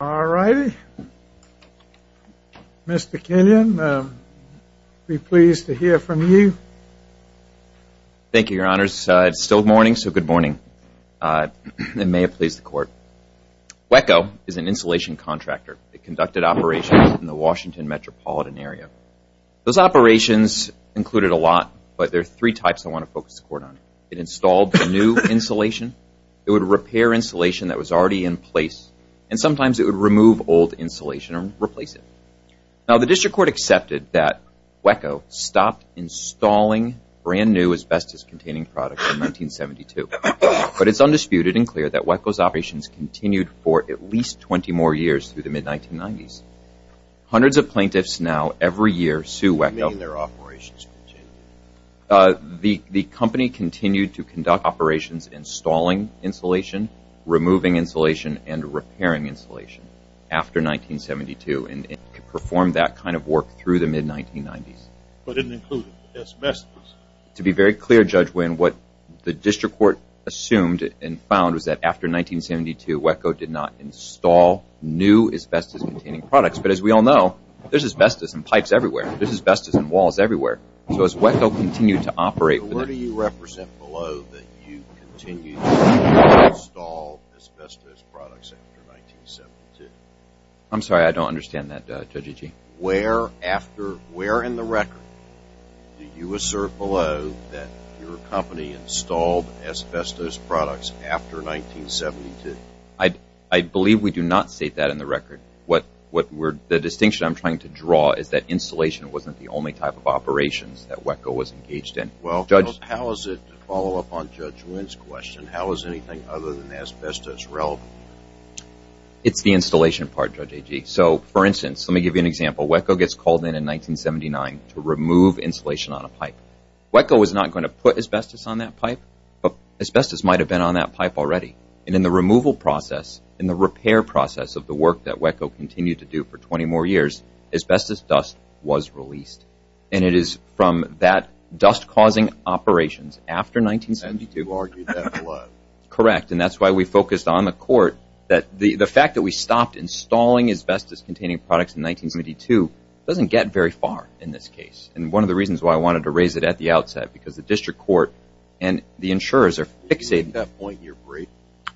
All righty. Mr. Kenyon, I'll be pleased to hear from you. Thank you, your honors. It's still morning, so good morning. It may have pleased the court. WECO is an insulation contractor that conducted operations in the Washington metropolitan area. Those operations included a lot, but there are three types I want to focus the court on. It installed the new insulation, it would repair insulation that was already in place, and sometimes it would remove old insulation and replace it. Now, the district court accepted that WECO stopped installing brand new asbestos-containing products in 1972, but it's undisputed and clear that WECO's operations continued for at least 20 more years through the mid-1990s. Hundreds of plaintiffs now every year sue WECO. The company continued to conduct operations installing insulation, removing insulation, and repairing insulation after 1972, and performed that kind of work through the mid-1990s. But it didn't include asbestos. To be very clear, Judge Winn, what the district court assumed and found was that after 1972, WECO did not install new asbestos-containing products. But as we all know, there's asbestos in pipes everywhere. There's asbestos in walls everywhere. So as WECO continued to operate... Where do you represent below that you continued to install asbestos products after 1972? I'm sorry, I don't understand that, Judge Agee. Where in the record do you assert below that your company installed asbestos products after 1972? I believe we do not state that in the record. The distinction I'm trying to draw is that to follow up on Judge Winn's question, how is anything other than asbestos relevant? It's the installation part, Judge Agee. So for instance, let me give you an example. WECO gets called in in 1979 to remove insulation on a pipe. WECO was not going to put asbestos on that pipe, but asbestos might have been on that pipe already. And in the removal process, in the repair process of the work that WECO continued to do for 20 more years, asbestos dust was released. And it is from that dust-causing operations after 1972... You argued that a lot. Correct. And that's why we focused on the court. The fact that we stopped installing asbestos containing products in 1972 doesn't get very far in this case. And one of the reasons why I wanted to raise it at the outset, because the district court and the insurers are fixating... At that point in your brief?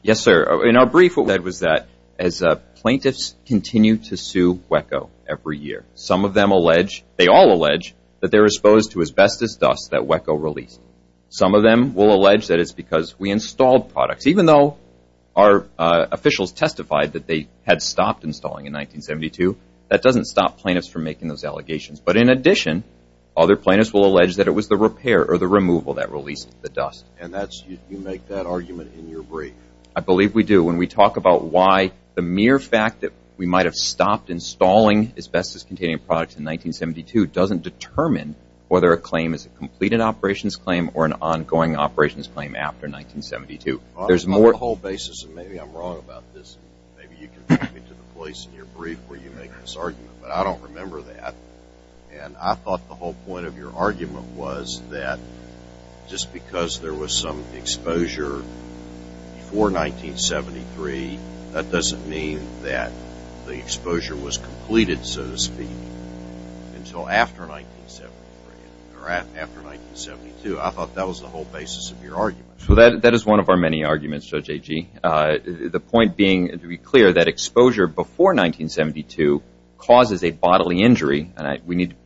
Yes, sir. In our brief, what we said was that as plaintiffs continue to sue WECO every year, some of them allege, they all allege, that they're exposed to asbestos dust that WECO released. Some of them will allege that it's because we installed products. Even though our officials testified that they had stopped installing in 1972, that doesn't stop plaintiffs from making those allegations. But in addition, other plaintiffs will allege that it was the repair or the removal that released the dust. And you make that argument in your brief. I believe we do. When we talk about why the mere fact that we might have stopped installing asbestos-containing products in 1972 doesn't determine whether a claim is a completed operations claim or an ongoing operations claim after 1972. On the whole basis, and maybe I'm wrong about this, maybe you can take me to the place in your brief where you make this argument, but I don't remember that. And I thought the whole point of your argument was that just because there was some exposure before 1973, that doesn't mean that the exposure was completed, so to speak, until after 1973 or after 1972. I thought that was the whole basis of your argument. So that is one of our many arguments, Judge Agee. The point being, to be clear, that exposure before 1972 causes a bodily injury, and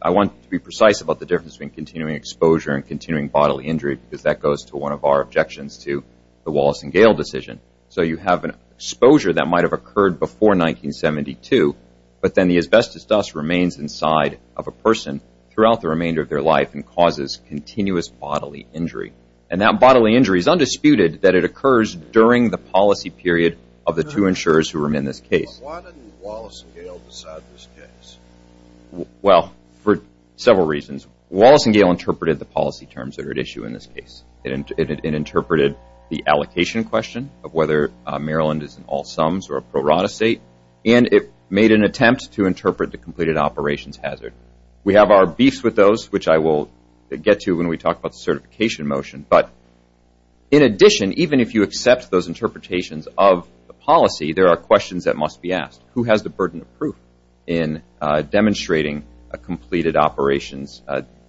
I want to be precise about the difference between continuing exposure and continuing bodily injury, because that goes to one of our objections to the Wallace and Gayle decision. So you have an exposure that might have occurred before 1972, but then the asbestos dust remains inside of a person throughout the remainder of their life and causes continuous bodily injury. And that bodily injury is undisputed that it occurs during the policy period of the two insurers who are in this case. Why didn't Wallace and Gayle decide this case? Well, for several reasons. Wallace and Gayle interpreted the policy terms that are at issue in this case. It interpreted the allocation question of whether Maryland is an all sums or a pro rata state, and it made an attempt to interpret the completed operations hazard. We have our beefs with those, which I will get to when we talk about the certification motion. But in addition, even if you accept those interpretations of the policy, there are questions that must be asked. Who has the burden of proof in demonstrating a completed operations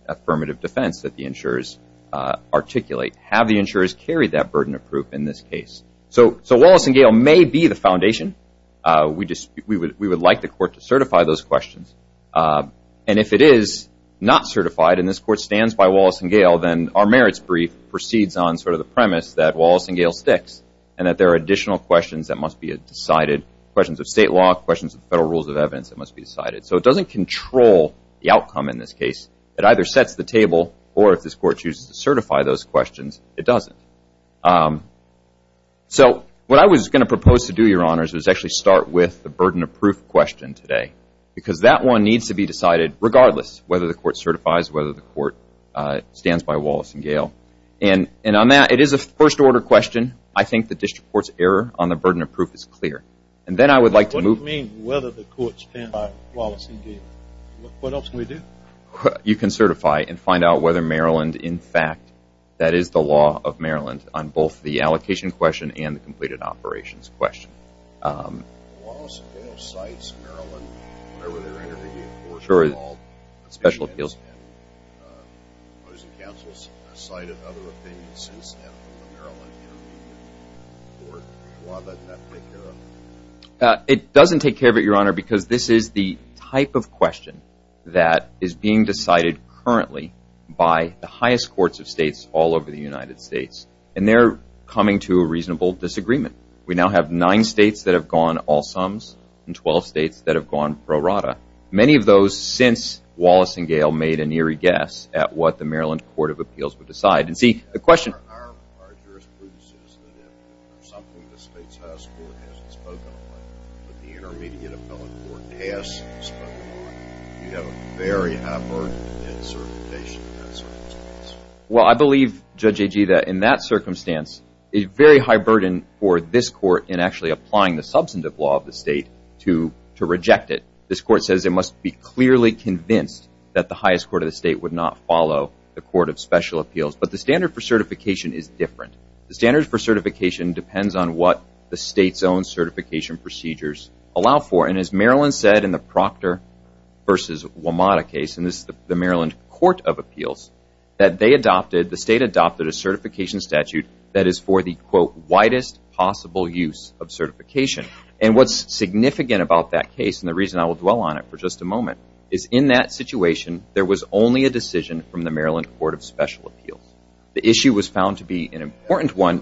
affirmative defense that the insurers articulate? Have the insurers carried that burden of proof in this case? So Wallace and Gayle may be the foundation. We would like the court to certify those questions. And if it is not certified, and this court stands by Wallace and Gayle, then our merits brief proceeds on sort of the premise that Wallace and Gayle sticks, and that there are additional questions that must be decided, questions of state law, questions of federal rules of evidence that must be decided. So it doesn't control the outcome in this case. It either sets the table, or if this court chooses to certify those questions, it doesn't. So what I was going to propose to do, Your Honors, was actually start with the burden of proof question today. Because that one needs to be decided regardless whether the court certifies, whether the court stands by Wallace and Gayle. And on that, it is a first order question. I think the district court's error on the burden of proof is clear. And then I would like to move- What do you mean whether the court stands by Wallace and Gayle? What else can we do? You can certify and find out whether Maryland, in fact, that is the law of Maryland on both the allocation question and the completed operations question. Wallace and Gayle cites Maryland whenever they're interviewed, of course, for all special appeals. And the opposing counsel has cited other opinions since the Maryland interview. Why doesn't that take care of it? It doesn't take care of it, Your Honor, because this is the type of question that is being decided currently by the highest courts of states all over the United States. And they're coming to a reasonable disagreement. We now have nine states that have gone all sums and 12 states that have gone pro rata. Many of those, since Wallace and Gayle made an eerie guess at what the Maryland Court of Appeals would decide. And see, the question- Our jurisprudence is that if something the state's highest court hasn't spoken on, but the intermediate appellate court has spoken on, you have a very high burden in certification in that circumstance. Well, I believe, Judge Agee, that in that circumstance, a very high burden for this court in actually applying the substantive law of the state to reject it. This court says it must be clearly convinced that the highest court of the state would not follow the Court of Special Appeals. But the standard for certification is different. The standard for certification depends on what the state's own certification procedures allow for. And as Maryland said in the Proctor v. WMATA case, and this is the Maryland Court of Appeals, that they adopted, the state adopted a certification statute that is for the, quote, widest possible use of certification. And what's significant about that case, and the reason I will dwell on it for just a moment, is in that situation, there was only a decision from the Maryland Court of Special Appeals. The issue was found to be an important one-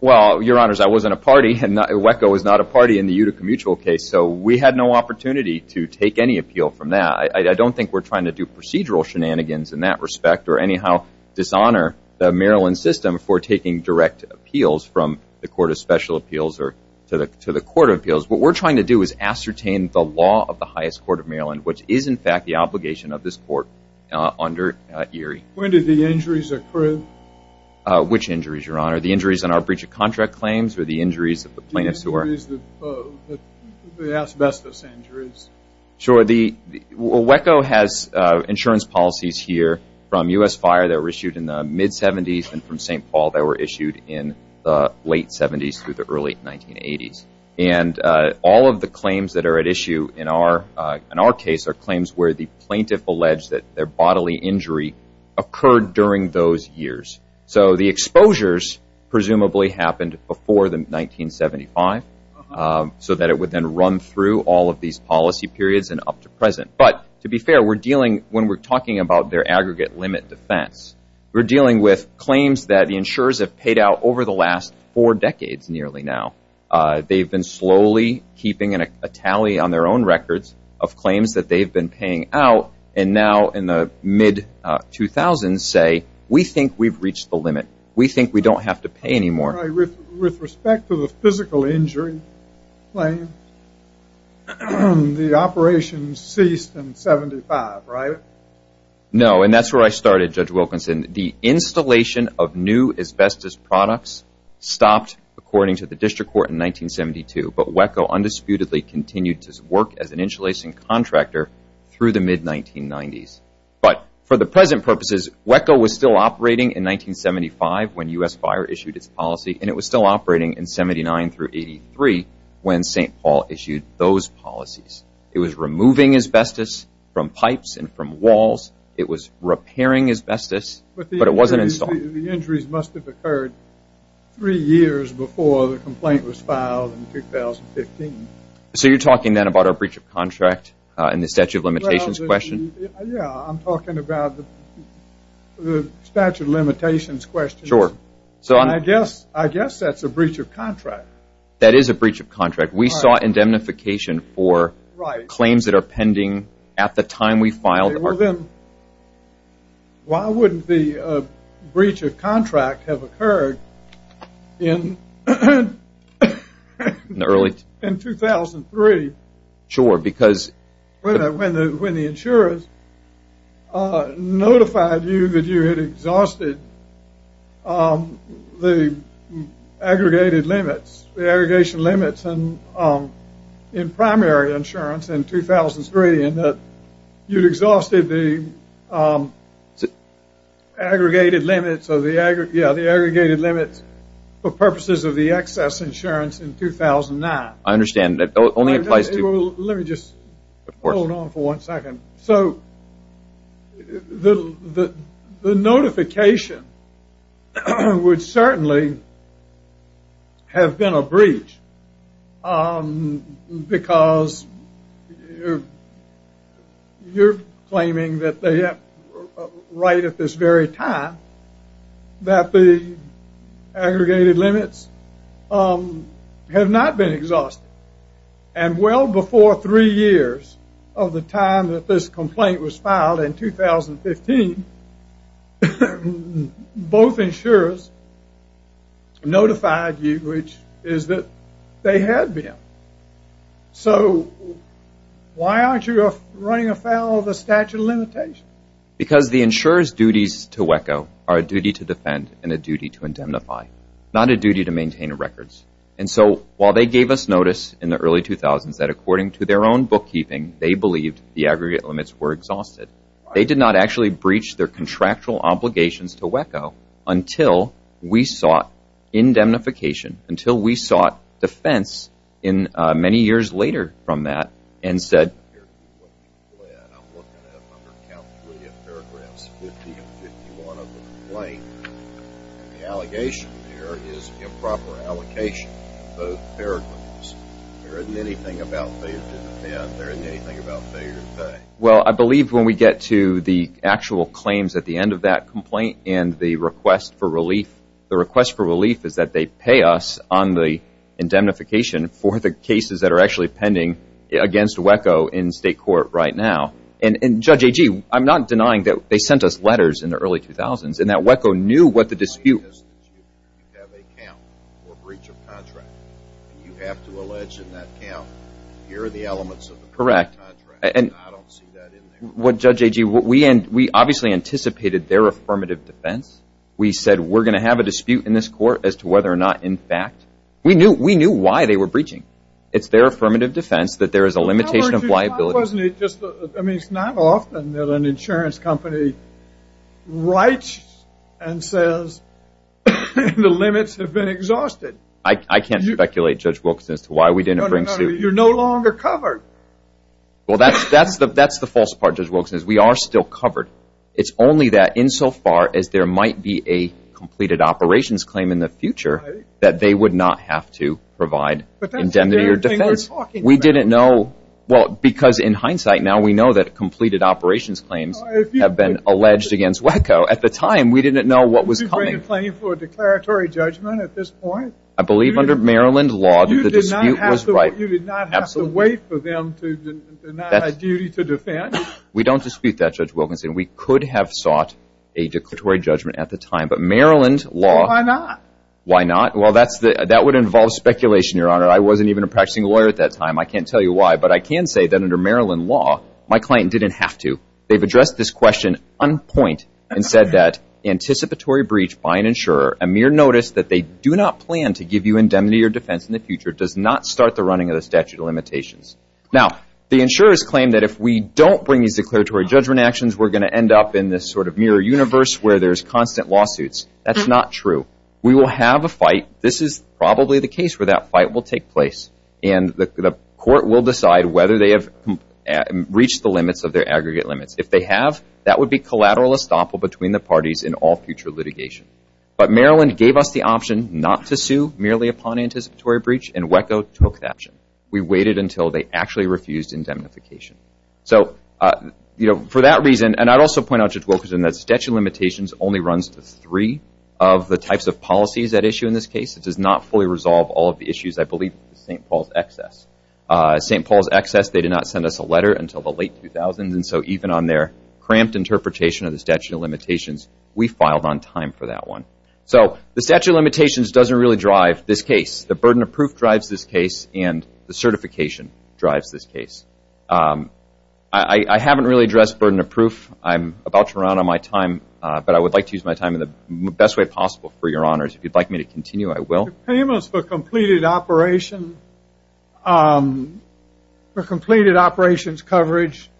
Well, Your Honors, I wasn't a party, and WECO was not a party in the Utica Mutual case, so we had no opportunity to take any appeal from that. I don't think we're trying to do procedural shenanigans in that respect or anyhow dishonor the Maryland system for taking direct appeals from the Court of Special Appeals or to the Court of Appeals. What we're trying to do is ascertain the law of the highest court of Maryland, which is, in fact, the obligation of this court under ERIE. When did the injuries occur? Which injuries, Your Honor? The injuries on our breach of contract claims or the injuries of the plaintiffs who were- The injuries, the asbestos injuries. The WECO has insurance policies here from U.S. Fire that were issued in the mid-70s and from St. Paul that were issued in the late 70s through the early 1980s. All of the claims that are at issue in our case are claims where the plaintiff alleged that their bodily injury occurred during those years. The exposures presumably happened before the 1975, so that it would then run through all of these policy periods and up to present. But to be fair, when we're talking about their aggregate limit defense, we're dealing with claims that the insurers have paid out over the last four decades nearly now. They've been slowly keeping a tally on their own records of claims that they've been paying out and now in the mid-2000s say, we think we've reached the limit. We think we don't have to pay anymore. With respect to the physical injury claim, the operation ceased in 75, right? No, and that's where I started, Judge Wilkinson. The installation of new asbestos products stopped according to the district court in 1972, but WECO undisputedly continued to work as an insulation contractor through the mid-1990s. But for the present purposes, WECO was still operating in and it was still operating in 79 through 83 when St. Paul issued those policies. It was removing asbestos from pipes and from walls. It was repairing asbestos, but it wasn't installed. The injuries must have occurred three years before the complaint was filed in 2015. So you're talking then about a breach of contract in the statute of limitations question? Yeah, I'm talking about the statute of limitations question. Sure. I guess that's a breach of contract. That is a breach of contract. We saw indemnification for claims that are pending at the time we filed. Well then, why wouldn't the breach of contract have occurred in 2003? Sure, because... When the insurers notified you that you had exhausted the aggregated limits, the aggregation limits in primary insurance in 2003 and that you'd exhausted the aggregated limits for purposes of the excess insurance in 2009. I understand. That only applies to... Let me just hold on for one second. So the notification would certainly have been a breach because you're claiming that they have, right at this very time, that the aggregated limits have not been exhausted. And well before three years of the time that this complaint was filed in 2015, both insurers notified you, which is that they had been. So why aren't you running afoul of the statute of limitations? Because the insurer's duties to WECO are a duty to defend and a duty to indemnify, not a duty to maintain records. And so while they gave us notice in the early 2000s that according to their own bookkeeping, they believed the aggregate limits were exhausted, they did not actually breach their contractual obligations to WECO until we sought indemnification, until we sought defense in many years later from that and said... I'm looking at a number of countless paragraphs, 50 and 51 of the complaint. The allegation there is improper allocation of both paragraphs. There isn't anything about failure to defend. There isn't anything about failure to pay. Well, I believe when we get to the actual claims at the end of that complaint and the request for relief, the request for relief is that they pay us on the indemnification for the cases that are pending against WECO in state court right now. And Judge Agee, I'm not denying that they sent us letters in the early 2000s and that WECO knew what the dispute... You have a count for breach of contract. You have to allege in that count, here are the elements of the contract. I don't see that in there. What Judge Agee, we obviously anticipated their affirmative defense. We said, we're going to have a dispute in this court as to whether or not in fact... We knew why they were breaching. It's their affirmative defense that there is a limitation of liability. I mean, it's not often that an insurance company writes and says the limits have been exhausted. I can't speculate, Judge Wilkinson, as to why we didn't bring suit. You're no longer covered. Well, that's the false part, Judge Wilkinson. We are still covered. It's only that insofar as there might be a operations claim in the future, that they would not have to provide indemnity or defense. We didn't know... Well, because in hindsight, now we know that completed operations claims have been alleged against WECO. At the time, we didn't know what was coming. Did you bring a claim for a declaratory judgment at this point? I believe under Maryland law, the dispute was right. You did not have to wait for them to deny a duty to defend? We don't dispute that, Judge Wilkinson. We could have sought a declaratory judgment at the time, but Maryland law... Well, why not? Why not? Well, that would involve speculation, Your Honor. I wasn't even a practicing lawyer at that time. I can't tell you why, but I can say that under Maryland law, my client didn't have to. They've addressed this question on point and said that anticipatory breach by an insurer, a mere notice that they do not plan to give you indemnity or defense in the future, does not start the running of the statute of limitations. Now, the insurers claim that if we don't bring these declaratory judgment actions, we're going to end up in this sort of universe where there's constant lawsuits. That's not true. We will have a fight. This is probably the case where that fight will take place, and the court will decide whether they have reached the limits of their aggregate limits. If they have, that would be collateral estoppel between the parties in all future litigation. But Maryland gave us the option not to sue merely upon anticipatory breach, and WECO took that option. We waited until they actually refused indemnification. So for that reason, and I'd also point out, that statute of limitations only runs to three of the types of policies at issue in this case. It does not fully resolve all of the issues, I believe, of St. Paul's excess. St. Paul's excess, they did not send us a letter until the late 2000s, and so even on their cramped interpretation of the statute of limitations, we filed on time for that one. So the statute of limitations doesn't really drive this case. The burden of proof drives this case, and the certification drives this case. I haven't really addressed burden of proof. I'm about to run out of my time, but I would like to use my time in the best way possible for your honors. If you'd like me to continue, I will. Payments for completed operation, for completed operations coverage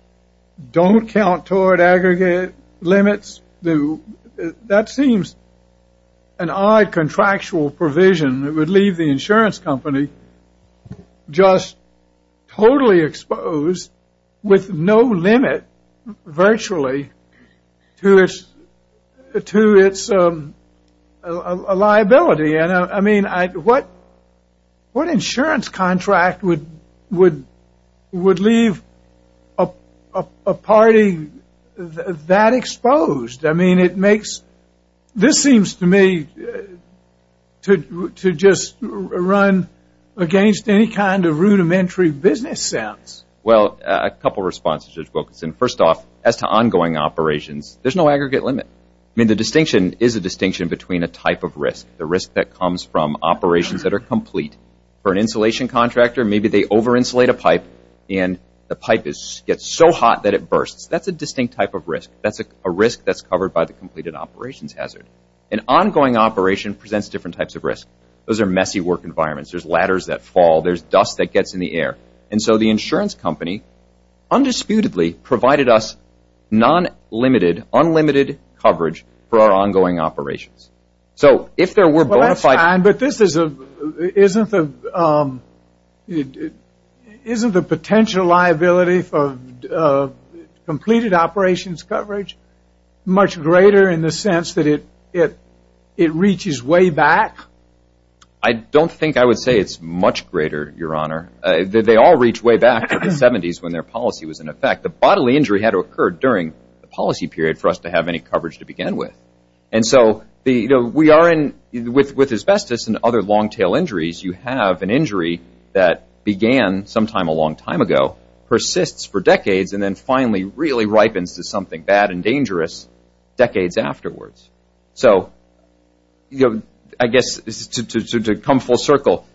don't count toward aggregate limits. That seems an odd contractual provision that would leave the insurance company just totally exposed with no limit virtually to its liability. What insurance contract would leave a party that exposed? This seems to me to just run against any kind of rudimentary business sense. Well, a couple of responses, Judge Wilkinson. As to ongoing operations, there's no aggregate limit. The distinction is a distinction between a type of risk. The risk that comes from operations that are complete. For an insulation contractor, maybe they over-insulate a pipe, and the pipe gets so hot that it bursts. That's a distinct type of risk. That's a risk that's covered by the completed operations hazard. An ongoing operation presents different types of risk. Those are messy work environments. There's ladders that fall. There's dust that gets in the air, and so the insurance company undisputedly provided us non-limited, unlimited coverage for our ongoing operations. So, if there were bona fide... But isn't the potential liability for completed operations coverage much greater in the sense that it reaches way back? I don't think I would say it's much greater, Your Honor. They all reach way back to the 70s when their policy was in effect. The bodily injury had to occur during the policy period for us to have any coverage to begin with. With asbestos and other long-tail injuries, you have an injury that began sometime a long time ago, persists for decades, and then finally really comes full circle.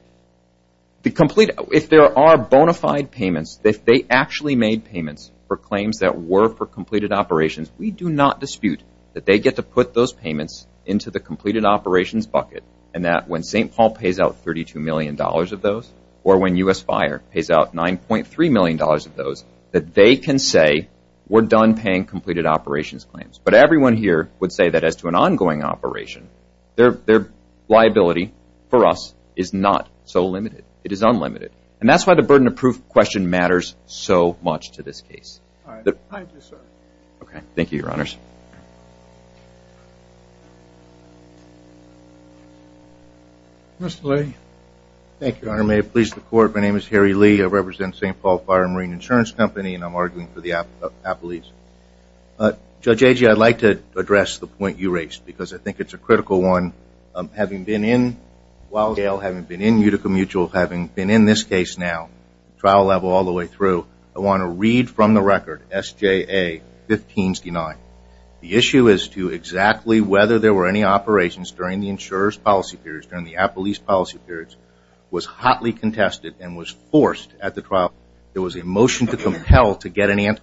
If there are bona fide payments, if they actually made payments for claims that were for completed operations, we do not dispute that they get to put those payments into the completed operations bucket, and that when St. Paul pays out $32 million of those, or when U.S. Fire pays out $9.3 million of those, that they can say, we're done paying completed operations claims. But everyone here would say that as to an for us is not so limited. It is unlimited. And that's why the burden of proof question matters so much to this case. All right. Thank you, sir. Okay. Thank you, Your Honors. Mr. Lee. Thank you, Your Honor. May it please the Court. My name is Harry Lee. I represent St. Paul Fire and Marine Insurance Company, and I'm arguing for the apolice. Judge Agee, I'd like to address the point you raised because I while in Yale, having been in Utica Mutual, having been in this case now, trial level all the way through, I want to read from the record, S.J.A. 1569. The issue is to exactly whether there were any operations during the insurer's policy periods, during the apolice policy periods, was hotly contested and was forced at the trial. There was a motion to compel to get an answer.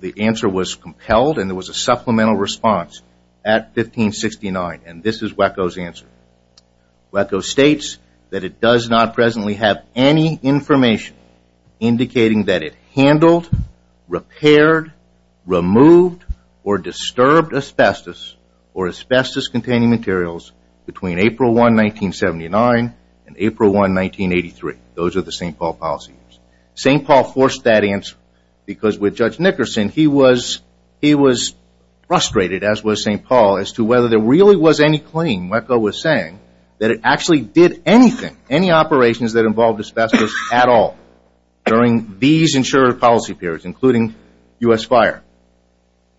The answer was compelled, and there was a supplemental response at S.J.A. 1569, and this is Waco's answer. Waco states that it does not presently have any information indicating that it handled, repaired, removed, or disturbed asbestos or asbestos-containing materials between April 1, 1979 and April 1, 1983. Those are the St. Paul policy years. St. Paul forced that answer because with Judge Nickerson, he was frustrated, as was St. Paul, as to whether there really was any claim, Waco was saying, that it actually did anything, any operations that involved asbestos at all during these insurer policy periods, including U.S. Fire.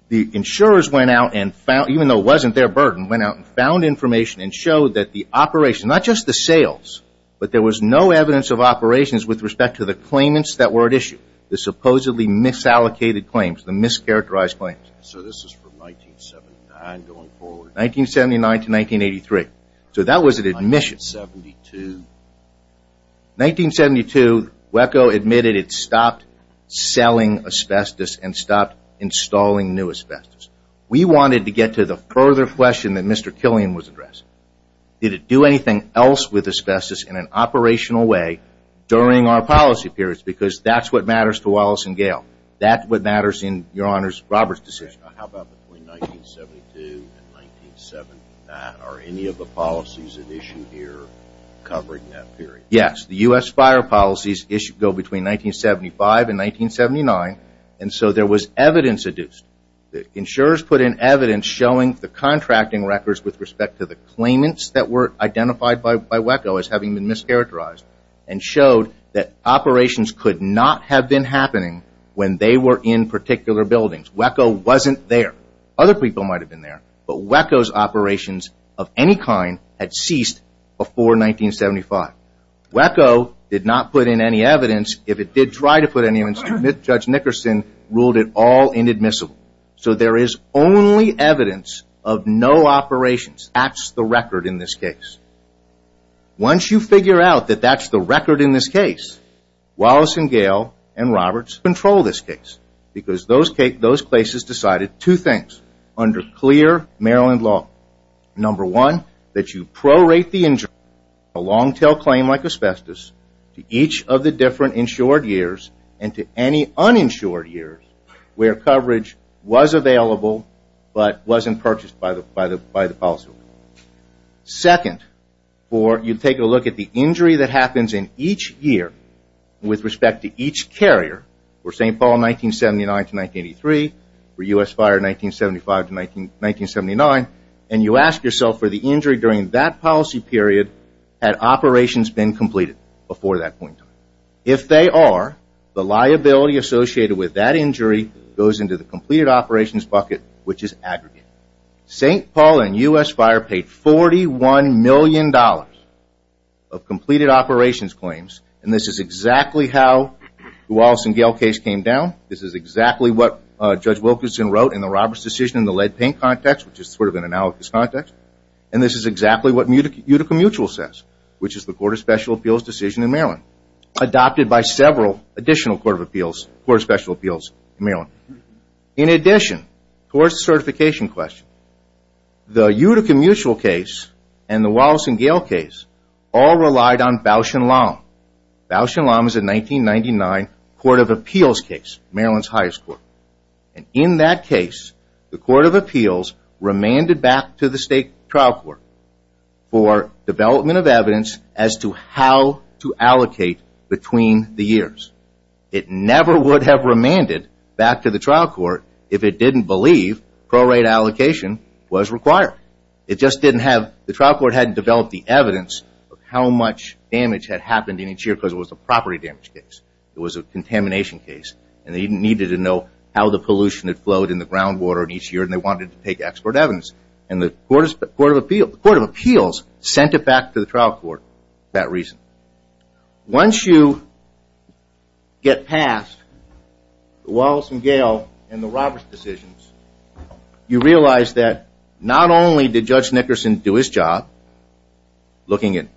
The insurers went out and found, even though it wasn't their burden, went out and found information and showed that the operation, not just the sales, but there was no evidence of operations with respect to the claimants that were at issue, the supposedly misallocated claims, the mischaracterized claims. So this is from 1979 going forward? 1979 to 1983. So that was an admission. 1972? 1972, Waco admitted it stopped selling asbestos and stopped installing new asbestos. We wanted to get to the further question that Mr. Killian was addressing. Did it do anything else with asbestos in an operational way during our policy periods? Because that's what matters to Wallace and How about between 1972 and 1979? Are any of the policies at issue here covering that period? Yes, the U.S. Fire policies go between 1975 and 1979, and so there was evidence adduced. The insurers put in evidence showing the contracting records with respect to the claimants that were identified by Waco as having been mischaracterized and showed that operations could not have been happening when they were in particular buildings. Waco wasn't there. Other people might have been there, but Waco's operations of any kind had ceased before 1975. Waco did not put in any evidence. If it did try to put any evidence, Judge Nickerson ruled it all inadmissible. So there is only evidence of no operations. That's the record in this case. Once you figure out that that's the record in this case, Wallace and Gale and Roberts control this case, because those places decided two things under clear Maryland law. Number one, that you prorate the injury, a long-tail claim like asbestos, to each of the different insured years and to any uninsured years where coverage was available but wasn't purchased by the policy. Second, you take a look at the injury that happens in each year with respect to each carrier for St. Paul 1979-1983, for US fire 1975-1979, and you ask yourself for the injury during that policy period had operations been completed before that point in time. If they are, the liability associated with that injury goes into the completed operations bucket, which is aggregated. St. Paul and US fire paid $41 million of completed operations claims, and this is exactly how the Wallace and Gale case came down. This is exactly what Judge Wilkinson wrote in the Roberts decision in the lead paint context, which is sort of an analogous context, and this is exactly what Utica Mutual says, which is the Court of Special Appeals decision in Maryland, adopted by several additional Court of Special Appeals in Maryland. In addition, towards the certification question, the Utica Mutual case and the Wallace and Gale case all relied on Bausch and Lomb. Bausch and Lomb is a 1999 Court of Appeals case, Maryland's highest court, and in that case, the Court of Appeals remanded back to the State Trial Court for development of evidence as to how to allocate between the years. It never would have remanded back to the trial court if it didn't believe pro-rate allocation was required. It just didn't have, the trial court hadn't developed the evidence of how much damage had happened in each year because it was a property damage case. It was a contamination case, and they needed to know how the pollution had flowed in the groundwater in each year, and they wanted to take expert evidence, and the Court of Appeals sent it back to the Wallace and Gale and the Roberts decisions. You realize that not only did Judge Nickerson do his job, looking at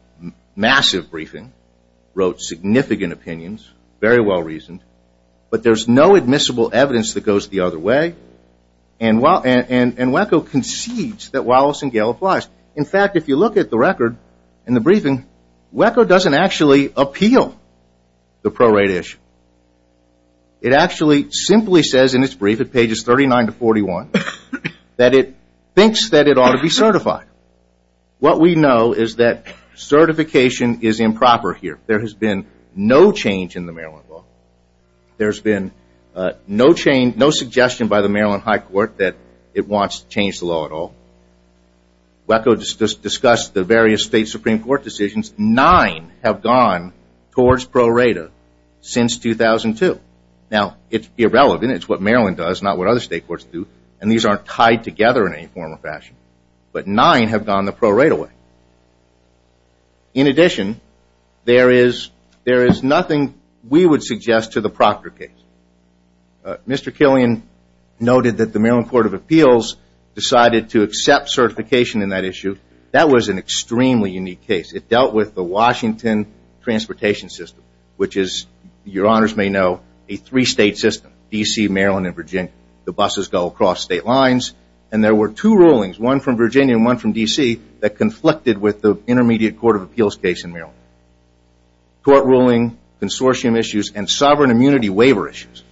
massive briefing, wrote significant opinions, very well reasoned, but there's no admissible evidence that goes the other way, and WECO concedes that Wallace and Gale applies. In fact, if you look at the record and the briefing, WECO doesn't actually appeal the pro- rate law. It actually simply says in its brief at pages 39 to 41 that it thinks that it ought to be certified. What we know is that certification is improper here. There has been no change in the Maryland law. There's been no change, no suggestion by the Maryland High Court that it wants to change the law at all. WECO discussed the various state Supreme Court decisions. Nine have gone towards pro-rata since 2002. Now, it's irrelevant. It's what Maryland does, not what other state courts do, and these aren't tied together in any form or fashion, but nine have gone the pro-rata way. In addition, there is nothing we would suggest to the Proctor case. Mr. Killian noted that the Maryland Court of Appeals decided to accept certification in that issue. That was an extremely unique case. It dealt with the Washington transportation system, which is, your honors may know, a three-state system, D.C., Maryland, and Virginia. The buses go across state lines, and there were two rulings, one from Virginia and one from D.C., that conflicted with the Intermediate Court of Appeals case in Maryland. Court ruling, consortium issues, and sovereign immunity waiver issues.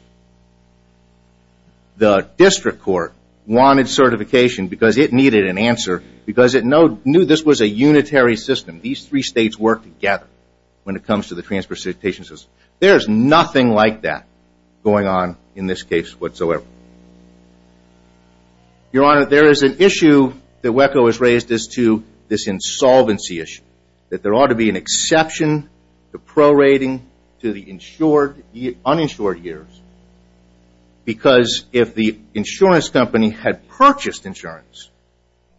The district court wanted certification because it needed an answer because it knew this was a unitary system. These three states work together when it comes to the transportation system. There is nothing like that going on in this case whatsoever. Your honor, there is an issue that WECO has raised as to this insolvency issue, that there ought to be an exception to prorating to the uninsured years because if the insurance company had purchased insurance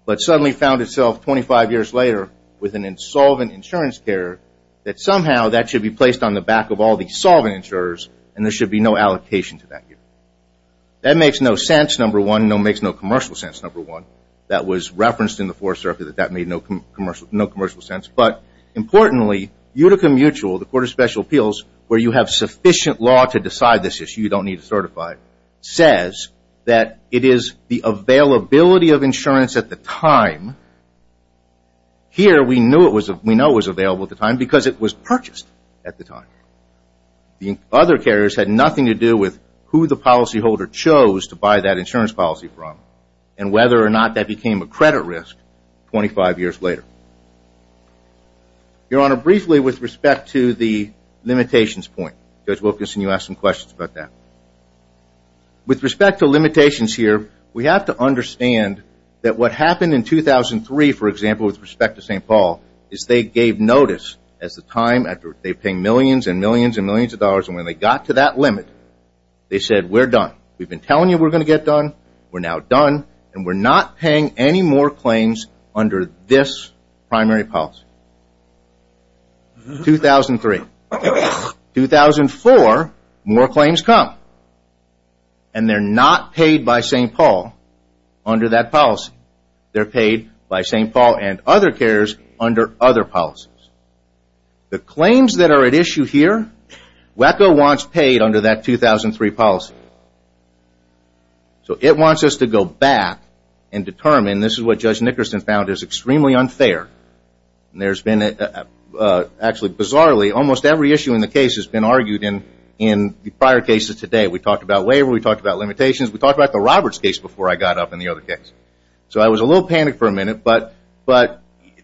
but suddenly found itself 25 years later with an insolvent insurance care, that somehow that should be placed on the back of all the insurers and there should be no allocation to that year. That makes no sense, number one. It makes no commercial sense, number one. That was referenced in the fourth circuit. That made no commercial sense. But importantly, Utica Mutual, the Court of Special Appeals, where you have sufficient law to decide this issue, you don't need to certify it, says that it is the availability of insurance at the time. Here we know it was available at the time because it was purchased at the time. The other carriers had nothing to do with who the policyholder chose to buy that insurance policy from and whether or not that became a credit risk 25 years later. Your honor, briefly with respect to the limitations point, Judge Wilkinson, you asked some questions about that. With respect to 2003, for example, with respect to St. Paul, is they gave notice at the time after they paid millions and millions and millions of dollars and when they got to that limit, they said we're done. We've been telling you we're going to get done. We're now done and we're not paying any more claims under this primary policy. 2003. 2004, more claims come and they're not paid by St. Paul under that policy. They're paid by St. Paul and other carriers under other policies. The claims that are at issue here, WACO wants paid under that 2003 policy. So it wants us to go back and determine this is what Judge Nickerson found is extremely unfair. There's been actually bizarrely almost every issue in the case has been argued in the prior cases today. We talked about Robert's case before I got up in the other case. So I was a little panicked for a minute but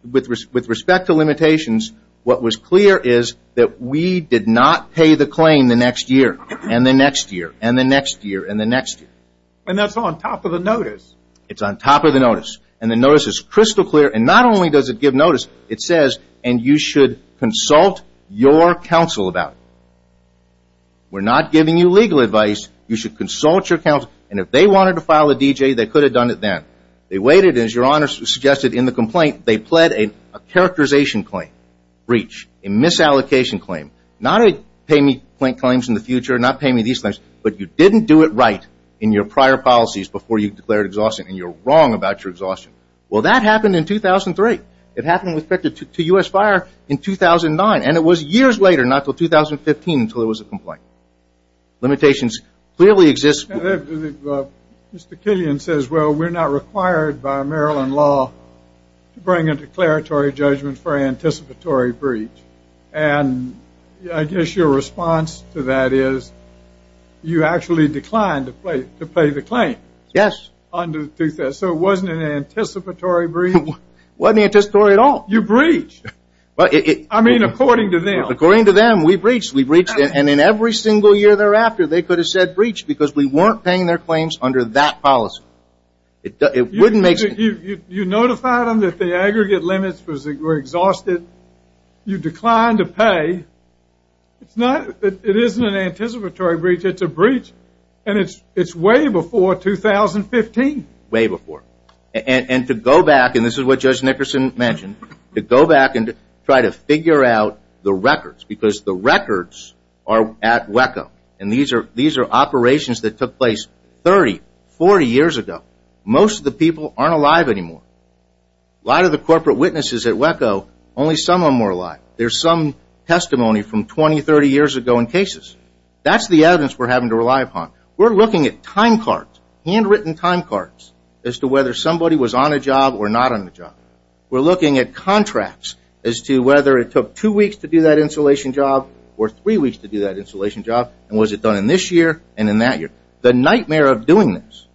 with respect to limitations, what was clear is that we did not pay the claim the next year and the next year and the next year and the next year. And that's on top of the notice. It's on top of the notice and the notice is crystal clear and not only does it give notice, it says and you should consult your counsel about it. We're not giving you legal advice. You may want to file a D.J. They could have done it then. They waited as your honors suggested in the complaint. They pled a characterization claim, breach, a misallocation claim, not a pay me claims in the future, not pay me these claims, but you didn't do it right in your prior policies before you declared exhaustion and you're wrong about your exhaustion. Well, that happened in 2003. It happened with respect to U.S. fire in 2009 and it was years later, not until 2015 until there was a complaint. Limitations clearly exist. Mr. Killian says we're not required by Maryland law to bring a declaratory judgment for anticipatory breach. And I guess your response to that is you actually declined to pay the claim. Yes. So it wasn't an anticipatory breach? It wasn't anticipatory at all. You breached. I mean according to them. We breached. We breached. And in every single year thereafter, they could have said breach because we weren't paying their claims under that policy. You notified them that the aggregate limits were exhausted. You declined to pay. It isn't an anticipatory breach. It's a breach. And it's way before 2015. Way before. And to go back, and this is what Judge Nickerson mentioned, to go the records are at WECO. And these are operations that took place 30, 40 years ago. Most of the people aren't alive anymore. A lot of the corporate witnesses at WECO, only some of them are alive. There's some testimony from 20, 30 years ago in cases. That's the evidence we're having to rely upon. We're looking at timecards, handwritten timecards as to whether somebody was on a job or not on a job. We're looking at contracts as to whether it took two weeks to do that insulation job or three weeks to do that insulation job and was it done in this year and in that year. The nightmare of doing this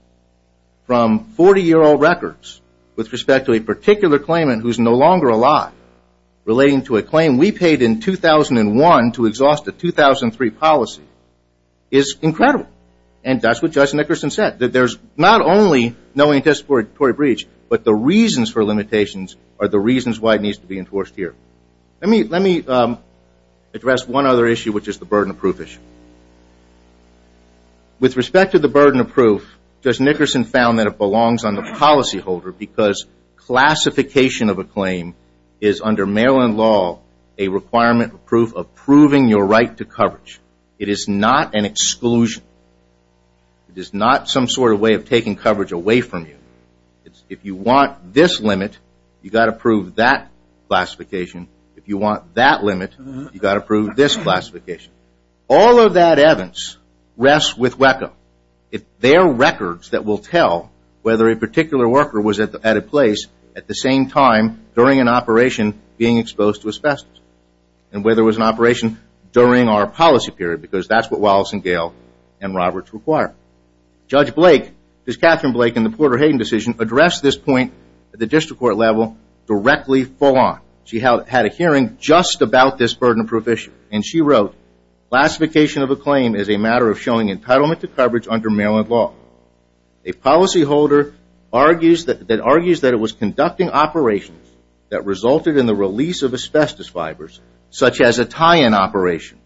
from 40-year-old records with respect to a particular claimant who's no longer alive relating to a claim we paid in 2001 to exhaust a 2003 policy is incredible. And that's what Judge Nickerson said. That there's not only no anticipatory breach, but the reasons for limitations are the reasons why it is. Let me address one other issue which is the burden of proof issue. With respect to the burden of proof, Judge Nickerson found that it belongs on the policyholder because classification of a claim is under Maryland law a requirement of proof of proving your right to coverage. It is not an exclusion. It is not some sort of way of taking coverage away from you. If you want this limit, you've got to prove that classification. If you want that limit, you've got to prove this classification. All of that, Evans, rests with WECA. It's their records that will tell whether a particular worker was at a place at the same time during an operation being exposed to asbestos and whether it was an operation during our policy period because that's what Wallace and Gale and Roberts require. Judge Blake, Judge Catherine Blake in the Porter-Hayden decision addressed this point at the burden of proof issue. Classification of a claim is a matter of showing entitlement to coverage under Maryland law. A policyholder argues that it was conducting operations that resulted in the release of asbestos fibers such as a tie-in operation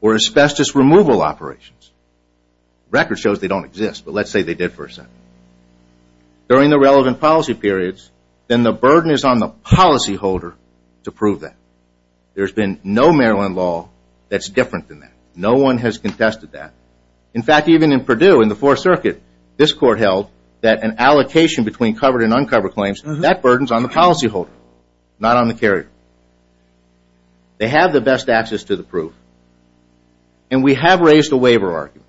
or asbestos removal operations. Record shows they don't exist, but let's say they did for a second. During the relevant policy periods, then the burden is on the policyholder to prove that. There's been no Maryland law that's different than that. No one has contested that. In fact, even in Purdue in the Fourth Circuit, this court held that an allocation between covered and uncovered claims, that burden is on the policyholder, not on the carrier. They have the best access to the proof. And we have raised a waiver argument.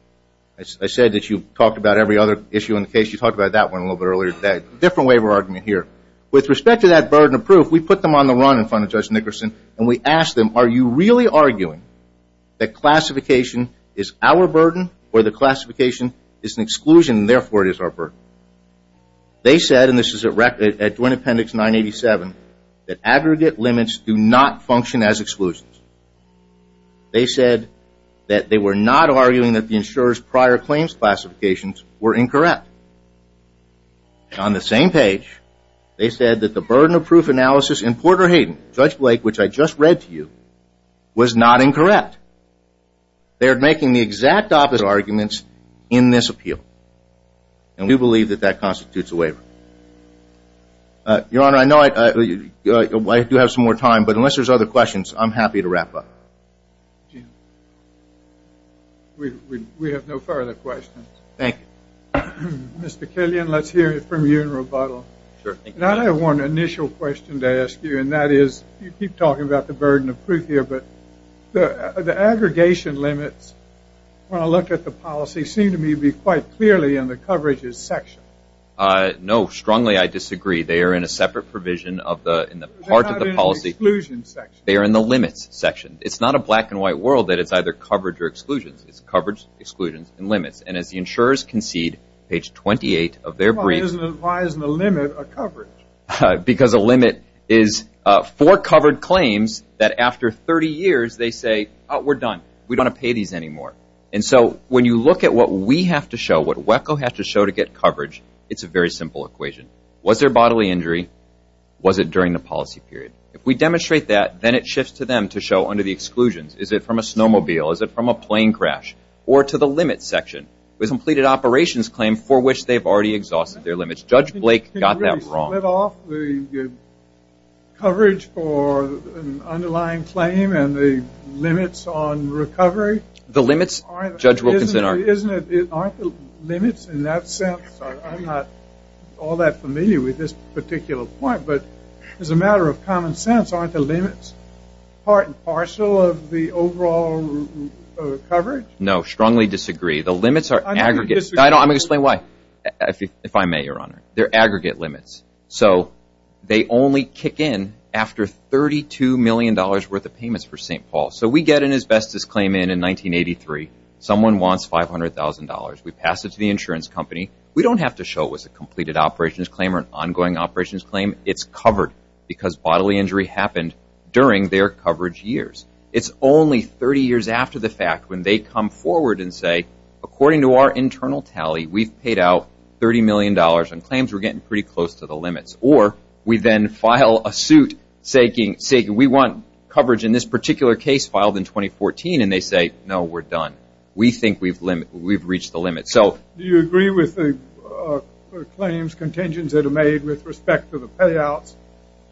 I said that you talked about every other issue in the case. You talked about that one a little bit earlier. Different waiver argument here. With respect to that burden of proof, we put them on the run in front of Judge Nickerson and we asked them, are you really arguing that classification is our burden or the classification is an exclusion and therefore it is our burden? They said, and this is at Duane Appendix 987, that aggregate limits do not function as exclusions. They said that they were not arguing that the insurer's prior claims classifications were incorrect. On the same page, they said that the burden of proof analysis in Porter-Hayden, Judge Blake, which I just read to you, was not incorrect. They are making the exact opposite arguments in this appeal. And we believe that that constitutes a waiver. Your Honor, I know I do have some more time, but unless there's other questions, I'm happy to wrap up. Jim. We have no further questions. Thank you. Mr. Killian, let's hear from you in rebuttal. Sure. I have one initial question to ask you, and that is, you keep talking about the burden of proof here, but the aggregation limits, when I look at the policy, seem to me to be quite clearly in the coverages section. No, strongly I disagree. They are in a separate provision in the exclusion section. They are in the limits section. It's not a black and white world that it's either coverage or exclusions. It's coverage, exclusions, and limits. And as the insurers concede, page 28 of their briefing... Why isn't a limit a coverage? Because a limit is four covered claims that after 30 years, they say, oh, we're done. We don't want to pay these anymore. And so when you look at what we have to show, what WECO has to show to get coverage, it's a very simple equation. Was there bodily injury? Was it during the policy period? If we demonstrate that, then it shifts to them to show under the exclusions. Is it from a snowmobile? Is it from a plane crash? Or to the limits section, with completed operations claim for which they have already exhausted their limits. Judge Blake got that wrong. Can you really split off the coverage for an underlying claim and the limits on recovery? The limits, Judge Wilkinson, aren't the particular point. But as a matter of common sense, aren't the limits part and parcel of the overall coverage? No, strongly disagree. The limits are aggregate. I'm going to explain why, if I may, Your Honor. They're aggregate limits. So they only kick in after $32 million worth of payments for St. Paul. So we get an asbestos claim in in 1983. Someone wants $500,000. We pass it to the insurance company. We don't have to show it was a completed operations claim or an ongoing operations claim. It's covered because bodily injury happened during their coverage years. It's only 30 years after the fact when they come forward and say, according to our internal tally, we've paid out $30 million and claims were getting pretty close to the limits. Or we then file a suit saying we want coverage in this particular case filed in 2014. And they say, no, we're done. We think we've reached the contingents that are made with respect to the payouts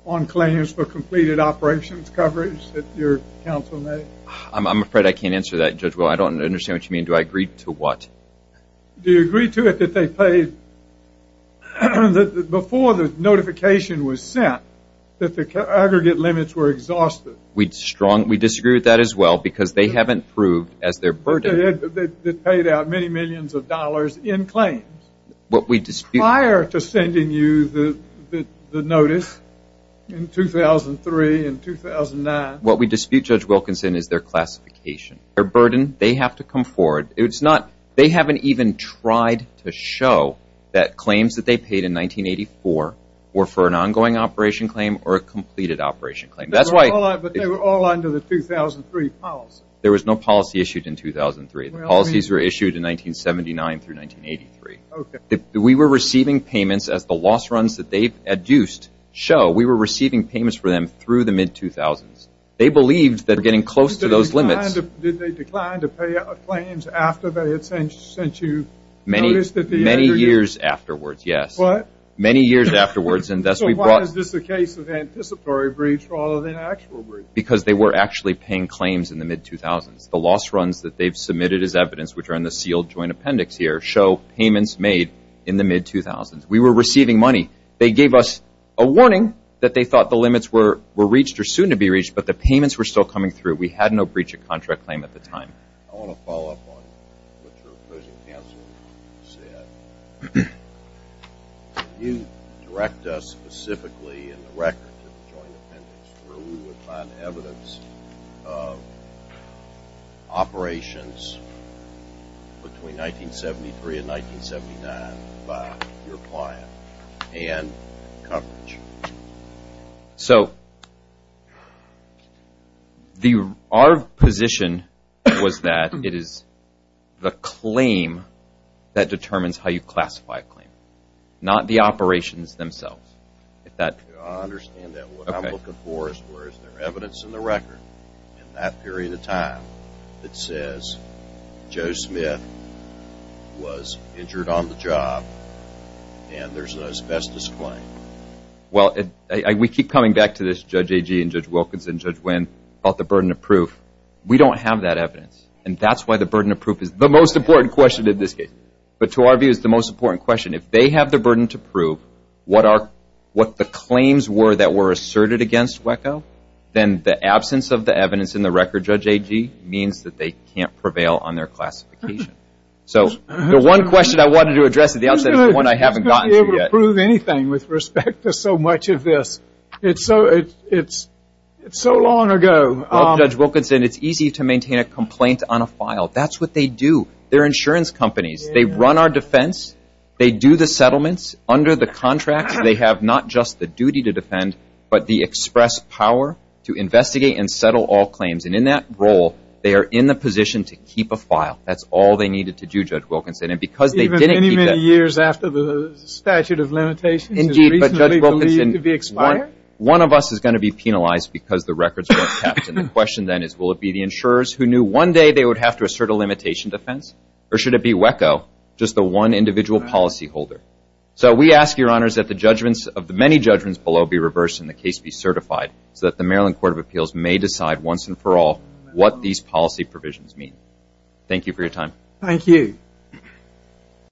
on claims for completed operations coverage that your counsel made. I'm afraid I can't answer that, Judge Will. I don't understand what you mean. Do I agree to what? Do you agree to it that they paid, that before the notification was sent, that the aggregate limits were exhausted? We'd strongly disagree with that as well because they haven't proved as their burden. They paid out many millions of dollars. But as compared to sending you the notice in 2003 and 2009. What we dispute, Judge Wilkinson, is their classification, their burden. They have to come forward. It's not, they haven't even tried to show that claims that they paid in 1984 were for an ongoing operation claim or a completed operation claim. But they were all under the 2003 policy. There was no policy issued in 2003. The policies were issued in 1979 through 1983. We were receiving payments as the loss runs that they've adduced show. We were receiving payments for them through the mid-2000s. They believed that we're getting close to those limits. Did they decline to pay out claims after they had sent you the notice at the end of the year? Many years afterwards, yes. What? Many years afterwards and thus we brought. So why is this a case of anticipatory briefs rather than actual briefs? Because they were actually paying claims in the mid-2000s. The loss runs that they've submitted as evidence, which are in the sealed joint appendix here, show payments made in the mid-2000s. We were receiving money. They gave us a warning that they thought the limits were reached or soon to be reached, but the payments were still coming through. We had no breach of contract claim at the time. I want to follow up on what your opposing counsel said. Can you direct us specifically in the record to the joint appendix where we would find evidence of operations between 1973 and 1979 by your client and coverage? So our position was that it is the claim that determines how you classify a claim, not the operations themselves. I understand that. What I'm looking for is there evidence in the record in that period of time that says Joe Smith was injured on the job and there's an asbestos claim. Well, we keep coming back to this, Judge Agee and Judge Wilkinson, Judge Winn, about the burden of proof. We don't have that evidence and that's why the burden of proof is the most important question in this case. But to our view, it's the most important question. If they have the burden to prove what the claims were that were asserted against WECO, then the absence of the evidence in the record, Judge Agee, means that they can't prevail on their classification. So the one question I wanted to address at the outset is the one I haven't gotten to yet. You're not going to be able to prove anything with respect to so much of this. It's so long ago. Well, Judge Wilkinson, it's easy to maintain a complaint on a file. That's what they do. They're insurance companies. They run our defense. They do the settlements under the but the express power to investigate and settle all claims. And in that role, they are in the position to keep a file. That's all they needed to do, Judge Wilkinson. And because they didn't keep that. Even many, many years after the statute of limitations is reasonably believed to be expired? One of us is going to be penalized because the records weren't kept. And the question then is, will it be the insurers who knew one day they would have to assert a limitation defense? Or should it be WECO, just the one individual policyholder? So we ask, Your Honors, that the judgments of the many judgments below be reversed and the case be certified so that the Maryland Court of Appeals may decide once and for all what these policy provisions mean. Thank you for your time. Thank you.